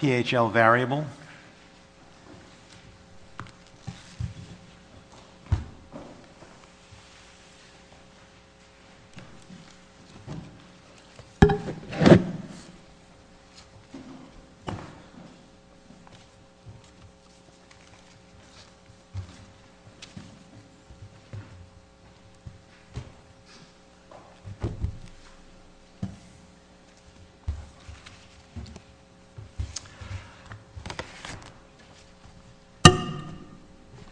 PHL Variable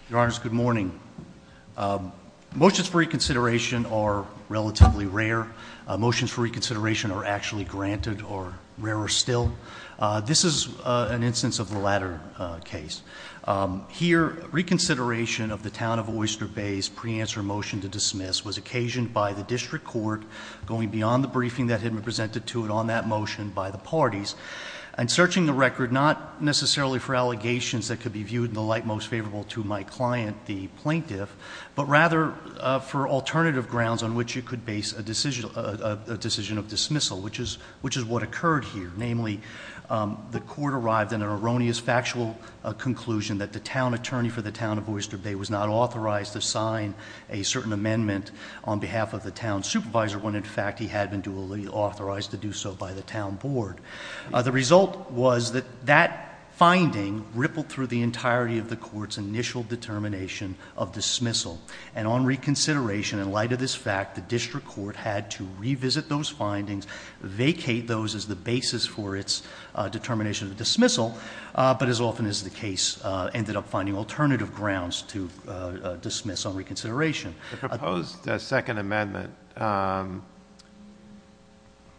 Your Honors, good morning. Motions for reconsideration are relatively rare. Motions for reconsideration are actually granted, or rarer still. This is an instance of the latter case. Here, reconsideration of the Town of Oyster Bay's pre-answer motion to dismiss was occasioned by the District Court going beyond the briefing that had been presented to it on that motion by the parties, and searching the record not necessarily for allegations that could be viewed in the light most favorable to my client, the plaintiff, but rather for alternative grounds on which you could base a decision of dismissal, which is what occurred here. Namely, the Court arrived in an erroneous factual conclusion that the Town Attorney for the Town of Oyster Bay was not authorized to sign a certain amendment on behalf of the Town Supervisor when in fact he had been duly authorized to do so by the Town Board. The result was that that finding rippled through the entirety of the Court's initial determination of dismissal. And on reconsideration, in light of this fact, the District Court had to revisit those findings, vacate those as the basis for its determination of dismissal, but as often is the case, ended up finding alternative grounds to dismiss on reconsideration. The proposed second amendment,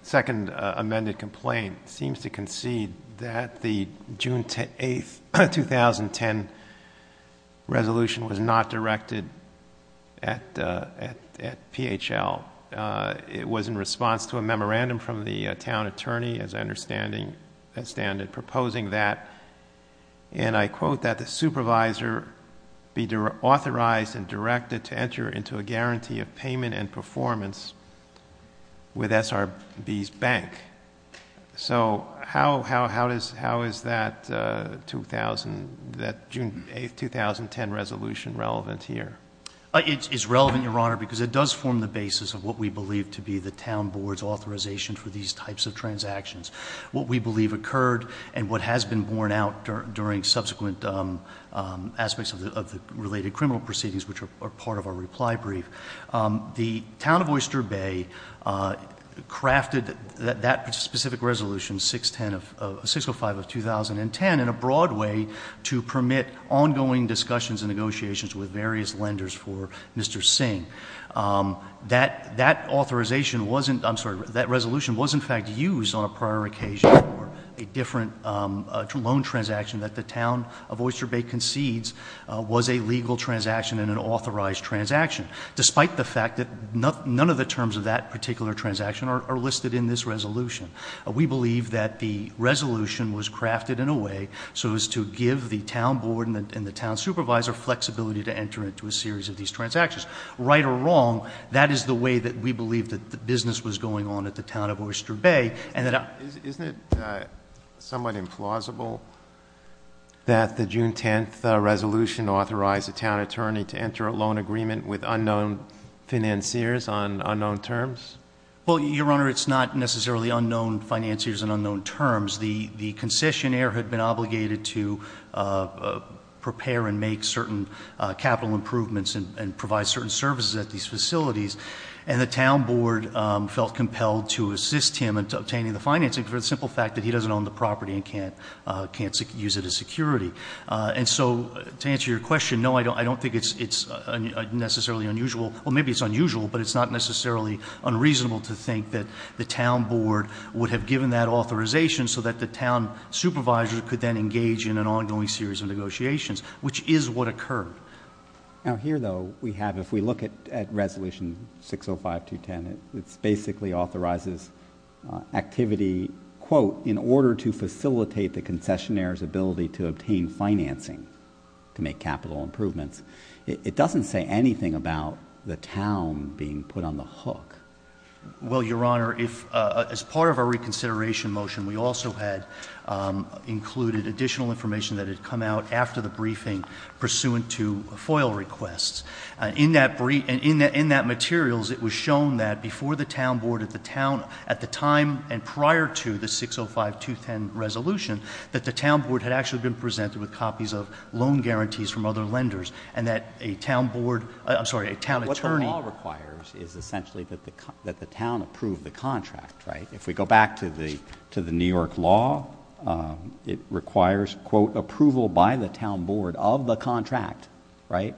second amended complaint, seems to concede that the June 8, 2010 resolution was not directed at PHL. It was in response to a memorandum from the Town Attorney, as I understand it, proposing that, and I quote, that the Supervisor be referred to a guarantee of payment and performance with SRB's bank. So how is that June 8, 2010 resolution relevant here? It is relevant, Your Honor, because it does form the basis of what we believe to be the Town Board's authorization for these types of transactions. What we believe occurred and what has been borne out during subsequent aspects of the related criminal proceedings, which are part of our reply brief, the Town of Oyster Bay crafted that specific resolution, 605 of 2010, in a broad way to permit ongoing discussions and negotiations with various lenders for Mr. Singh. That authorization wasn't, I'm sorry, that resolution was in fact used on a prior occasion for a different loan transaction that the Town of Oyster Bay concedes was a legal transaction and an authorized transaction, despite the fact that none of the terms of that particular transaction are listed in this resolution. We believe that the resolution was crafted in a way so as to give the Town Board and the Town Supervisor flexibility to enter into a series of these transactions. Right or wrong, that is the way that we believe that the business was going on at the Town of Oyster Bay. Isn't it somewhat implausible that the June 10th resolution authorized a town attorney to enter a loan agreement with unknown financiers on unknown terms? Well, Your Honor, it's not necessarily unknown financiers on unknown terms. The concessionaire had been obligated to prepare and make certain capital improvements and provide certain services at these facilities, and the Town Board felt compelled to assist him in obtaining the financing for the simple fact that he doesn't own the property and can't use it as security. And so, to answer your question, no, I don't think it's necessarily unusual. Well, maybe it's unusual, but it's not necessarily unreasonable to think that the Town Board would have given that authorization so that the Town Supervisor could then engage in an ongoing series of negotiations, which is what occurred. Now, here, though, we have, if we look at Resolution 605-210, it basically authorizes activity, quote, in order to facilitate the concessionaire's ability to obtain financing to make capital improvements. It doesn't say anything about the town being put on the hook. Well, Your Honor, as part of our reconsideration motion, we also had included additional information that had come out after the briefing pursuant to FOIL requests. In that materials, it was shown that before the Town Board at the time and prior to the 605-210 resolution, that the Town Board had actually been presented with copies of loan guarantees from other lenders, and that a town attorney... What the law requires is essentially that the town approve the contract, right? If we require, quote, approval by the Town Board of the contract, right?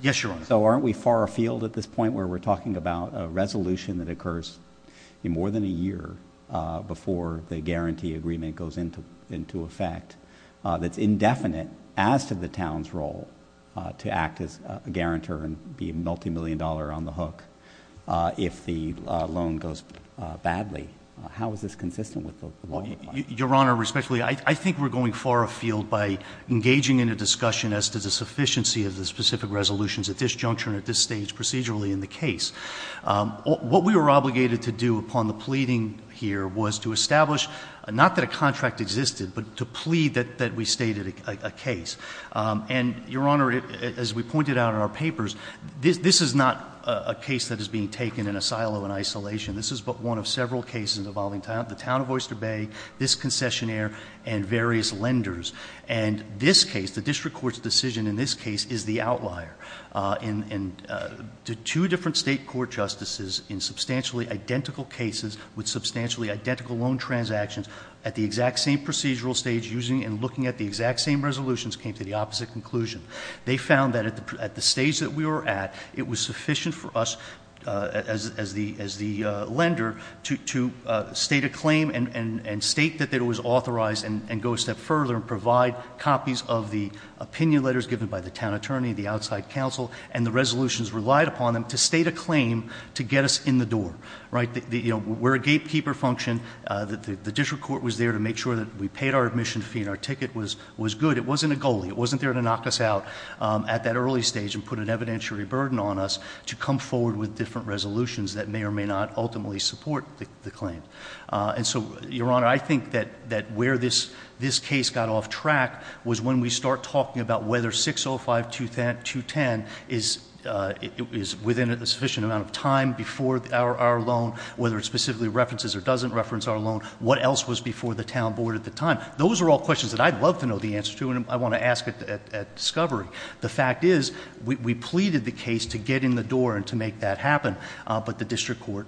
Yes, Your Honor. So aren't we far afield at this point where we're talking about a resolution that occurs in more than a year before the guarantee agreement goes into effect that's indefinite as to the town's role to act as a guarantor and be a multimillion dollar on the hook if the loan goes badly? How is this consistent with the law? Your Honor, respectfully, I think we're going far afield by engaging in a discussion as to the sufficiency of the specific resolutions at this juncture and at this stage procedurally in the case. What we were obligated to do upon the pleading here was to establish — not that a contract existed, but to plead that we stated a case. And, Your Honor, as we pointed out in our papers, this is not a case that is being taken in a silo in isolation. This is but one of several cases involving the town of Oyster Bay, this concessionaire, and various lenders. And this case, the district court's decision in this case is the outlier. And two different state court justices in substantially identical cases with substantially identical loan transactions at the exact same procedural stage using and looking at the exact same resolutions came to the opposite conclusion. They found that at the stage that we were at, it was sufficient for us, as the lender, to state a claim and state that it was authorized and go a step further and provide copies of the opinion letters given by the town attorney, the outside counsel, and the resolutions relied upon them to state a claim to get us in the door. Right? You know, we're a gatekeeper function. The district court was there to make sure that we paid our admission fee and our ticket was good. It wasn't a goalie. It wasn't there to knock us out at that early stage and put an evidentiary burden on us to come forward with different resolutions that may or may not ultimately support the claim. And so, Your Honor, I think that where this case got off track was when we start talking about whether 605-210 is within a sufficient amount of time before our loan, whether it specifically references or doesn't reference our loan, what else was before the town board at the time. Those are all questions that I'd love to know the answer to and I want to ask at discovery. The fact is, we pleaded the case to get in the door and to make that happen, but the district court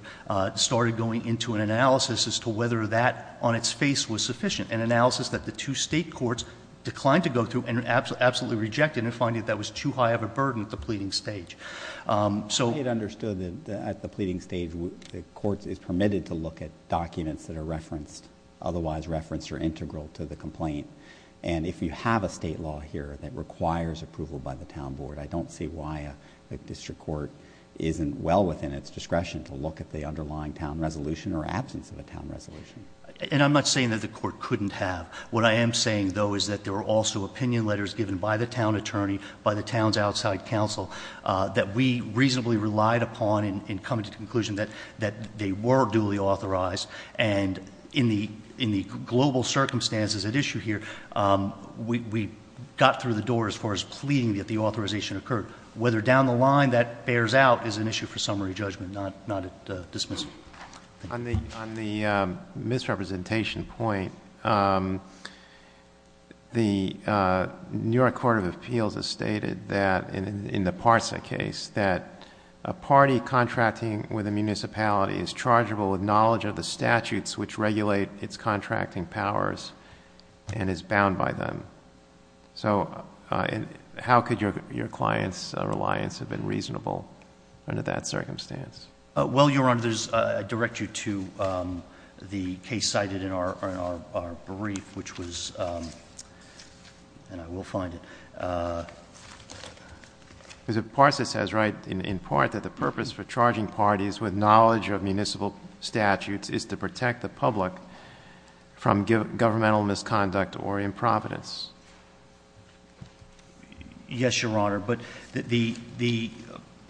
started going into an analysis as to whether that on its face was sufficient, an analysis that the two state courts declined to go through and absolutely rejected in finding that was too high of a burden at the pleading stage. So... I think it understood that at the pleading stage, the court is permitted to look at documents that are referenced, otherwise referenced or integral to the complaint. And if you have a state law here that requires approval by the town board, I don't see why a district court isn't well within its discretion to look at the underlying town resolution or absence of a town resolution. And I'm not saying that the court couldn't have. What I am saying, though, is that there were also opinion letters given by the town attorney, by the town's outside counsel, that we reasonably relied upon in coming to the conclusion that they were duly authorized. And in the global circumstances at issue here, we got through the door as far as pleading that the authorization occurred. Whether down the line that bears out is an issue for summary judgment, not a dismissal. On the misrepresentation point, the New York Court of Appeals has stated that in the Parsa case, that a party contracting with a municipality is chargeable with knowledge of the statutes which regulate its contracting powers and is bound by them. So how could your client's reliance have been reasonable under that circumstance? Well, Your Honor, I direct you to the case cited in our brief, which was... and I will find it. Because if Parsa says right, in part, that the purpose for charging parties with knowledge of municipal statutes is to protect the public from governmental misconduct or improvidence. Yes, Your Honor. But the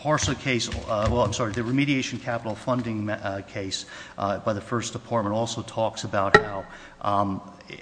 Parsa case... well, I'm sorry, the remediation capital funding case by the First Department also talks about how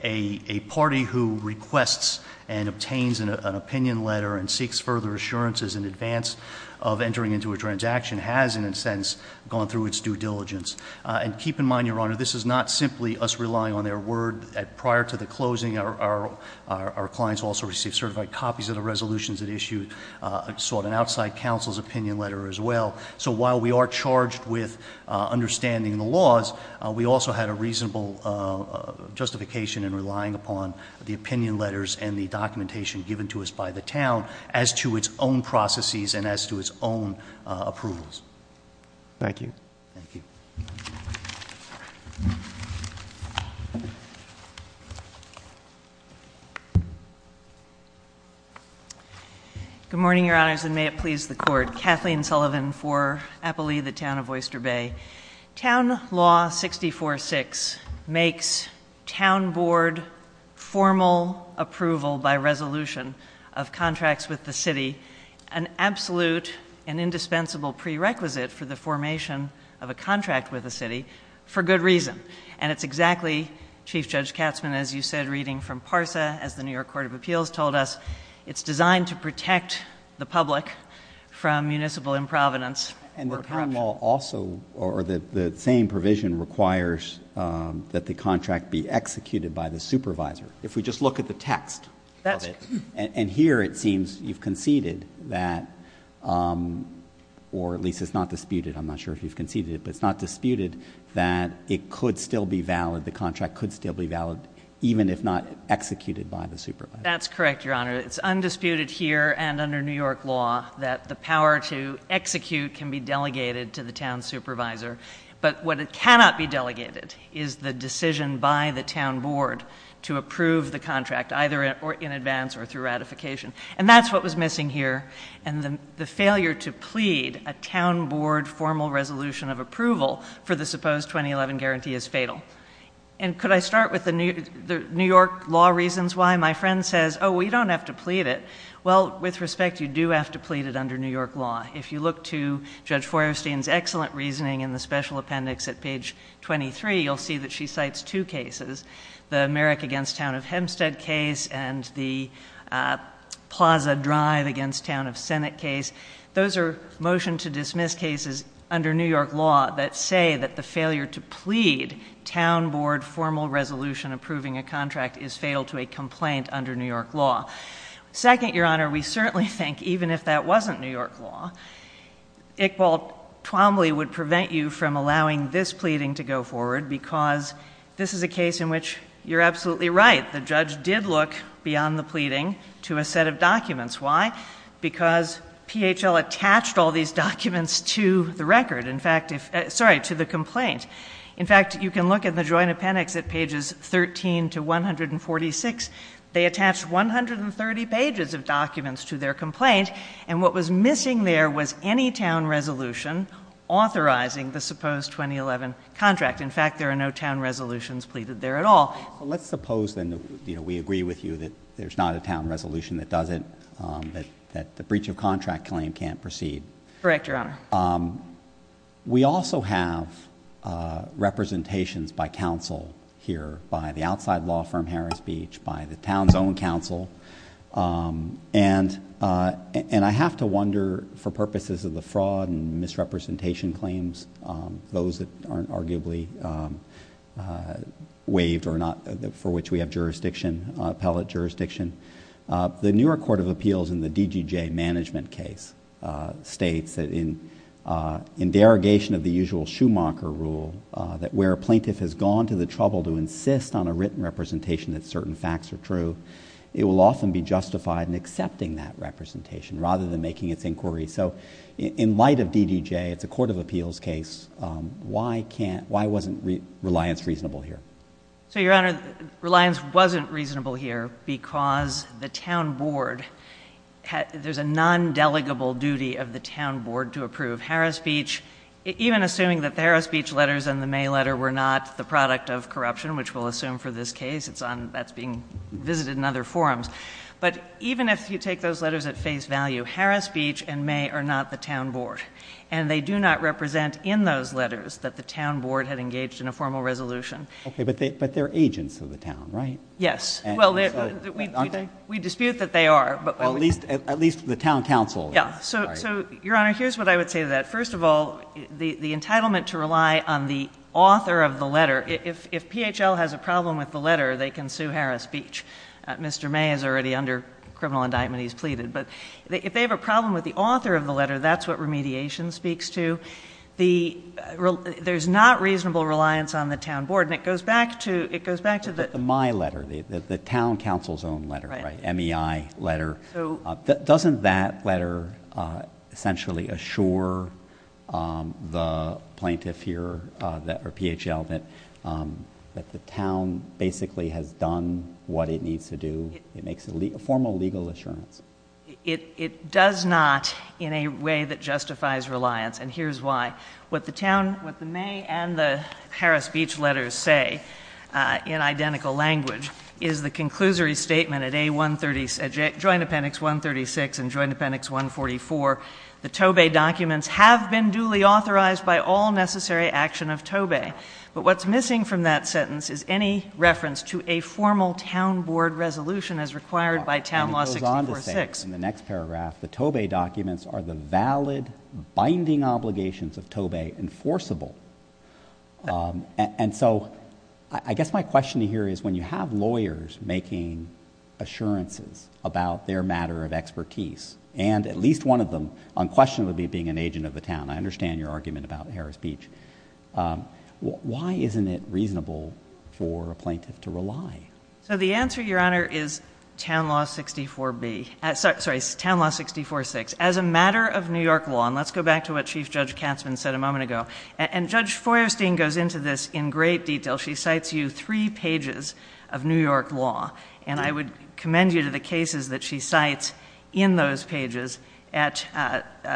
a party who requests and obtains an opinion letter and seeks further assurances in advance of entering into a transaction has, in a sense, gone through its due diligence. And keep in mind, Your Honor, this is not simply us relying on their word. Prior to the closing, our clients also received certified copies of the resolutions that issued an outside counsel's opinion letter as well. So while we are charged with understanding the laws, we also had a reasonable justification in relying upon the opinion letters and the documentation given to us by the town as to its own processes and as to its own approvals. Thank you. Thank you. Good morning, Your Honors, and may it please the Court. Kathleen Sullivan for Applee, the resolution of contracts with the city, an absolute and indispensable prerequisite for the formation of a contract with the city, for good reason. And it's exactly, Chief Judge Katzman, as you said, reading from Parsa, as the New York Court of Appeals told us, it's designed to protect the public from municipal improvenance or corruption. And the prime law also, or the same provision, requires that the contract be executed by the supervisor. If we just look at the text of it, and here it seems you've conceded that, or at least it's not disputed, I'm not sure if you've conceded it, but it's not disputed that it could still be valid, the contract could still be valid, even if not executed by the supervisor. That's correct, Your Honor. It's undisputed here and under New York law that the power to execute can be delegated to the town supervisor. But what cannot be delegated is the decision by the town board to approve the contract, either in advance or through ratification. And that's what was missing here. And the failure to plead a town board formal resolution of approval for the supposed 2011 guarantee is fatal. And could I start with the New York law reasons why? My friend says, oh, we don't have to plead it. Well, with respect, you do have to plead it under New York law. If you look to Judge Feuerstein's excellent reasoning in the special appendix at page 23, you'll see that she cites two cases, the Merrick against Town of Hempstead case and the Plaza Drive against Town of Senate case. Those are motion to dismiss cases under New York law that say that the failure to plead town board formal resolution approving a contract is fatal to a complaint under New York law. Second, Your Honor, we certainly think even if that wasn't New York law, Iqbal Twombly would prevent you from allowing this pleading to go forward because this is a case in which you're absolutely right. The judge did look beyond the pleading to a set of documents. Why? Because PHL attached all these documents to the record. In fact, sorry, to the complaint. In fact, you can look at the joint appendix at pages 13 to 146. They attached 130 pages of documents to their complaint. And what was missing there was any town resolution authorizing the supposed 2011 contract. In fact, there are no town resolutions pleaded there at all. Well, let's suppose then, you know, we agree with you that there's not a town resolution that does it, that the breach of contract claim can't proceed. Correct, Your Honor. We also have representations by counsel here by the outside law firm Harris Beach, by the And I have to wonder, for purposes of the fraud and misrepresentation claims, those that aren't arguably waived or not, for which we have jurisdiction, appellate jurisdiction, the New York Court of Appeals in the DGJ management case states that in derogation of the usual Schumacher rule, that where a plaintiff has gone to the trouble to insist on a written that representation rather than making its inquiry. So in light of DDJ, it's a court of appeals case. Why wasn't reliance reasonable here? So, Your Honor, reliance wasn't reasonable here because the town board, there's a non-delegable duty of the town board to approve Harris Beach. Even assuming that the Harris Beach letters and the May letter were not the product of corruption, which we'll assume for this case, that's being visited in other forums. But even if you take those letters at face value, Harris Beach and May are not the town board. And they do not represent in those letters that the town board had engaged in a formal resolution. Okay, but they're agents of the town, right? Yes. We dispute that they are. At least the town council. So, Your Honor, here's what I would say to that. First of all, the entitlement to rely on the author of the letter. If PHL has a problem with the letter, they can sue Harris Beach. Mr. May is already under criminal indictment. He's pleaded. But if they have a problem with the author of the letter, that's what remediation speaks to. There's not reasonable reliance on the town board. And it goes back to the— The May letter, the town council's own letter, right? MEI letter. Doesn't that letter essentially assure the plaintiff here, or PHL, that the town basically has done what it needs to do? It makes a formal legal assurance. It does not in a way that justifies reliance. And here's why. What the town, what the May and the Harris Beach letters say, in identical language, is the conclusory statement at joint appendix 136 and joint appendix 144, the TOBE documents have been duly authorized by all necessary action of TOBE. But what's missing from that sentence is any reference to a formal town board resolution as required by town law 646. And it goes on to say in the next paragraph, the TOBE documents are the valid binding obligations of TOBE enforceable. And so, I guess my question here is, when you have lawyers making assurances about their matter of expertise, and at least one of them unquestionably being an agent of the town—I understand your argument about Harris Beach—why isn't it reasonable for a plaintiff to rely? So the answer, Your Honor, is town law 64B—sorry, town law 646. As a matter of New York law, and let's go back to what Chief Judge Katzmann said a moment ago. And Judge Feuerstein goes into this in great detail. She cites you three pages of New York law. And I would commend you to the cases that she cites in those pages at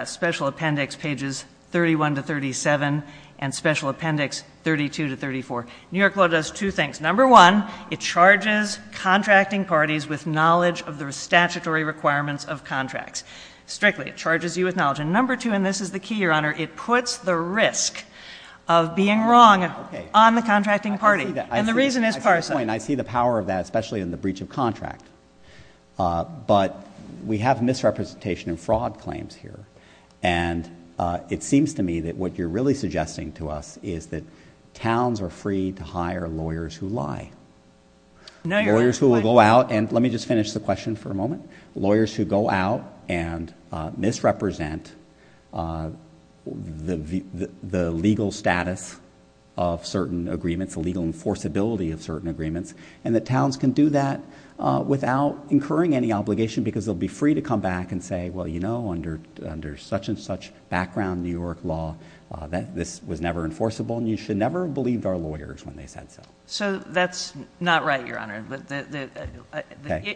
Special Appendix pages 31 to 37 and Special Appendix 32 to 34. New York law does two things. Number one, it charges contracting parties with knowledge of the statutory requirements of contracts. Strictly, it charges you with knowledge. And number two, and this is the key, Your Honor, it puts the risk of being wrong on the contracting party. And the reason is parsed. At this point, I see the power of that, especially in the breach of contract. But we have misrepresentation and fraud claims here. And it seems to me that what you're really suggesting to us is that towns are free to hire lawyers who lie. Lawyers who will go out—and let me just finish the question for a moment. Lawyers who go out and misrepresent the legal status of certain agreements, the legal enforceability of certain agreements, and that towns can do that without incurring any obligation because they'll be free to come back and say, well, you know, under such and such background New York law, this was never enforceable. And you should never have believed our lawyers when they said so. So that's not right, Your Honor.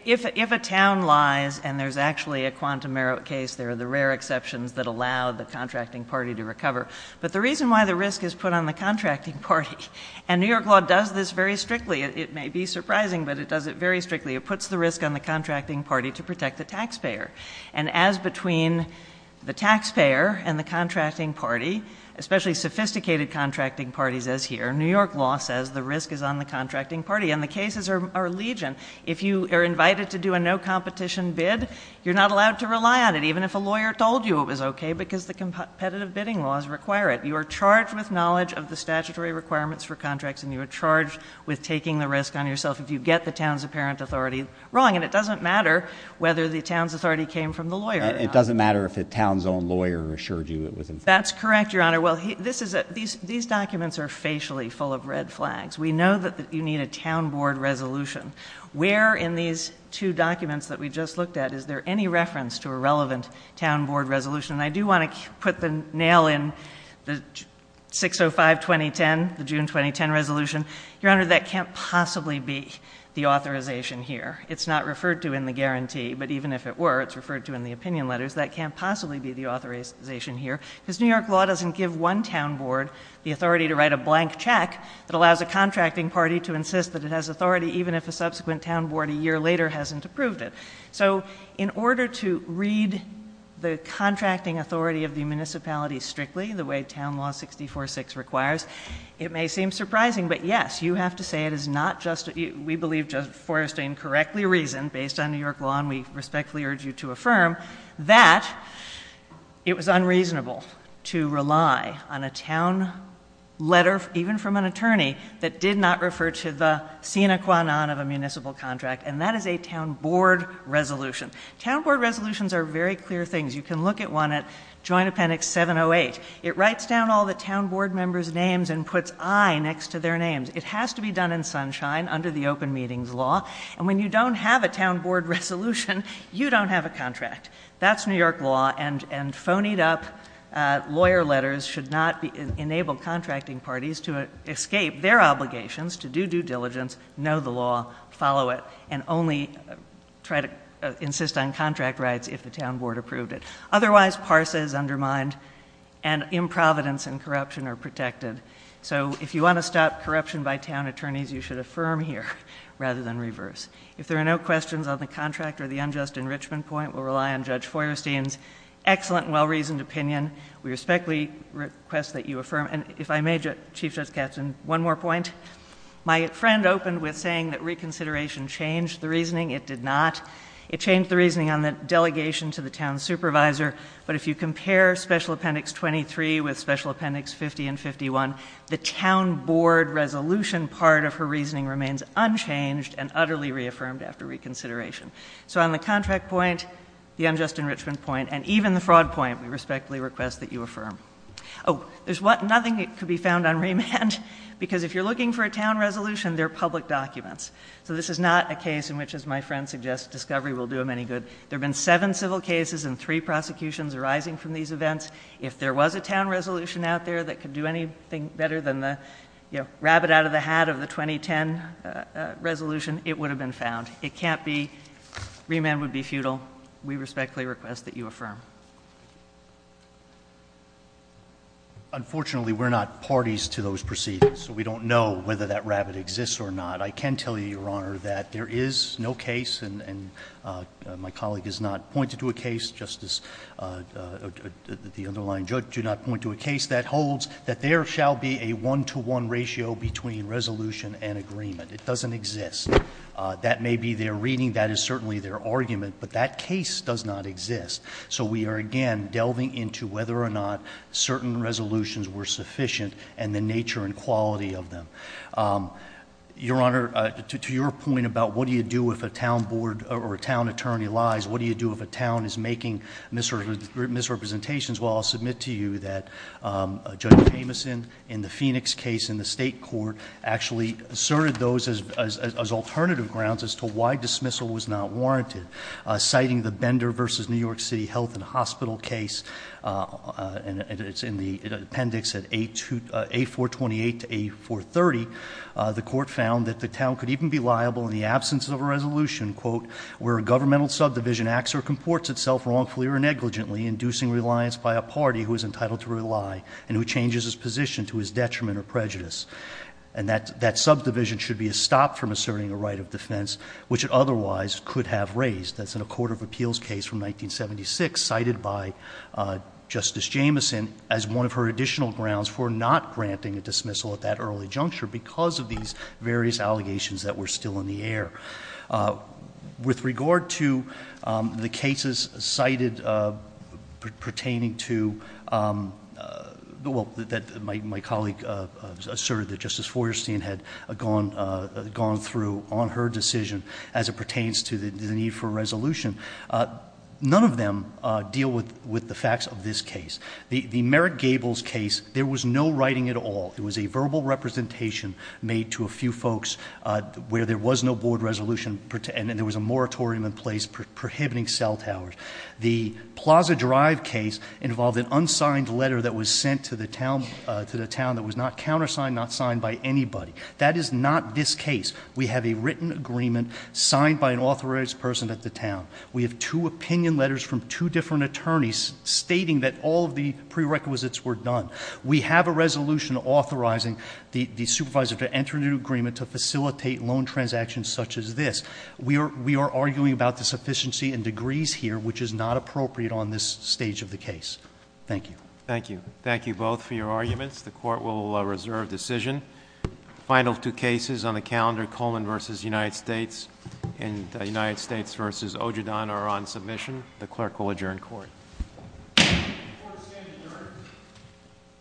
If a town lies and there's actually a quantum merit case, there are the rare exceptions that allow the contracting party to recover. But the risk is put on the contracting party. And New York law does this very strictly. It may be surprising, but it does it very strictly. It puts the risk on the contracting party to protect the taxpayer. And as between the taxpayer and the contracting party, especially sophisticated contracting parties as here, New York law says the risk is on the contracting party. And the cases are legion. If you are invited to do a no-competition bid, you're not allowed to rely on it, even if a lawyer told you it was okay because the competitive bidding laws require it. You are charged with knowledge of the statutory requirements for contracts and you are charged with taking the risk on yourself if you get the town's apparent authority wrong. And it doesn't matter whether the town's authority came from the lawyer or not. It doesn't matter if the town's own lawyer assured you it was okay. That's correct, Your Honor. These documents are facially full of red flags. We know that you need a town board resolution. Where in these two documents that we just looked at is there any reference to a relevant town board resolution? And I do want to put the nail in the 605-2010, the June 2010 resolution. Your Honor, that can't possibly be the authorization here. It's not referred to in the guarantee, but even if it were, it's referred to in the opinion letters. That can't possibly be the authorization here because New York law doesn't give one town board the authority to write a blank check that allows a contracting party to insist that it has authority even if a subsequent town board a year later hasn't approved it. So in order to read the contracting authority of the municipality strictly, the way town law 64-6 requires, it may seem surprising, but yes, you have to say it is not just, we believe, just forest incorrectly reasoned based on New York law and we respectfully urge you to affirm that it was unreasonable to rely on a town letter even from an attorney that did not refer to the sine qua non of a municipal contract and that is a town board resolution. Town board resolutions are very clear things. You can look at one at Joint Appendix 708. It writes down all the town board members' names and puts I next to their names. It has to be done in sunshine under the open meetings law and when you don't have a town board resolution, you don't have a contract. That's New York law and phonied up lawyer letters should not enable contracting parties to escape their obligations to do due diligence, know the law, follow it, and only try to insist on contract rights if the town board approved it. Otherwise, PARSA is undermined and improvidence and corruption are protected. So if you want to stop corruption by town attorneys, you should affirm here rather than reverse. If there are no questions on the contract or the unjust enrichment point, we'll rely on Judge Feuerstein's excellent, well-reasoned opinion. We respectfully request that you affirm and if I may, Chief Justice Katz, one more point. My friend opened with saying that reconsideration changed the reasoning. It did not. It changed the reasoning on the delegation to the town supervisor, but if you compare Special Appendix 23 with Special Appendix 50 and 51, the town board resolution part of her reasoning remains unchanged and despite the unjust enrichment point and even the fraud point, we respectfully request that you affirm. Oh, there's nothing that could be found on remand because if you're looking for a town resolution, they're public documents. So this is not a case in which, as my friend suggests, discovery will do them any good. There have been seven civil cases and three prosecutions arising from these events. If there was a town resolution out there that could do anything better than the rabbit out of the hat of the 2010 resolution, it would have been found. It can't be. Remand would be futile. We respectfully request that you affirm. Unfortunately, we're not parties to those proceedings, so we don't know whether that rabbit exists or not. I can tell you, Your Honor, that there is no case and my colleague has not pointed to a case, Justice, the underlying judge did not point to a case that holds that there shall be a one-to-one ratio between resolution and agreement. It doesn't exist. That may be their reading. That is certainly their argument, but that case does not exist. So we are again delving into whether or not certain resolutions were sufficient and the nature and quality of them. Your Honor, to your point about what do you do if a town attorney lies, what do you do if a town is making misrepresentations, well, I'll submit to you that Judge Jamieson in the Phoenix case in the state court actually asserted those as alternative grounds as to why dismissal was not warranted. Citing the Bender v. New York City Health and Hospital case, and it's in the appendix at A428 to A430, the court found that the town could even be liable in the absence of a resolution, quote, where a governmental subdivision acts or comports itself wrongfully or negligently, inducing reliance by a party who is entitled to rely and who changes his position to his detriment or prejudice. And that subdivision should be stopped from asserting a right of defense which it otherwise could have raised. That's in a court of appeals case from 1976 cited by Justice Jamieson as one of her additional grounds for not granting a dismissal at that early juncture because of these various allegations that were still in the air. With regard to the cases cited pertaining to, well, that my colleague asserted that Justice Feuerstein had gone through on her decision as it pertains to the need for a resolution, none of them deal with the facts of this case. The Merrick Gables case, there was no writing at all. It was a verbal representation made to a few folks where there was no board resolution and there was a moratorium in place prohibiting cell towers. The Plaza Drive case involved an unsigned letter that was sent to the town that was not countersigned, not signed by anybody. That is not this case. We have a written agreement signed by an authorized person at the town. We have two opinion letters from two different attorneys stating that all of the prerequisites were done. We have a resolution authorizing the supervisor to enter into agreement to facilitate loan transactions such as this. We are arguing about the sufficiency and degrees here, which is not appropriate on this stage of the case. Thank you. Thank you. Thank you both for your arguments. The court will reserve decision. The final two cases on the calendar, Coleman v. United States and United States v. Ojedon are on submission. The clerk will adjourn court.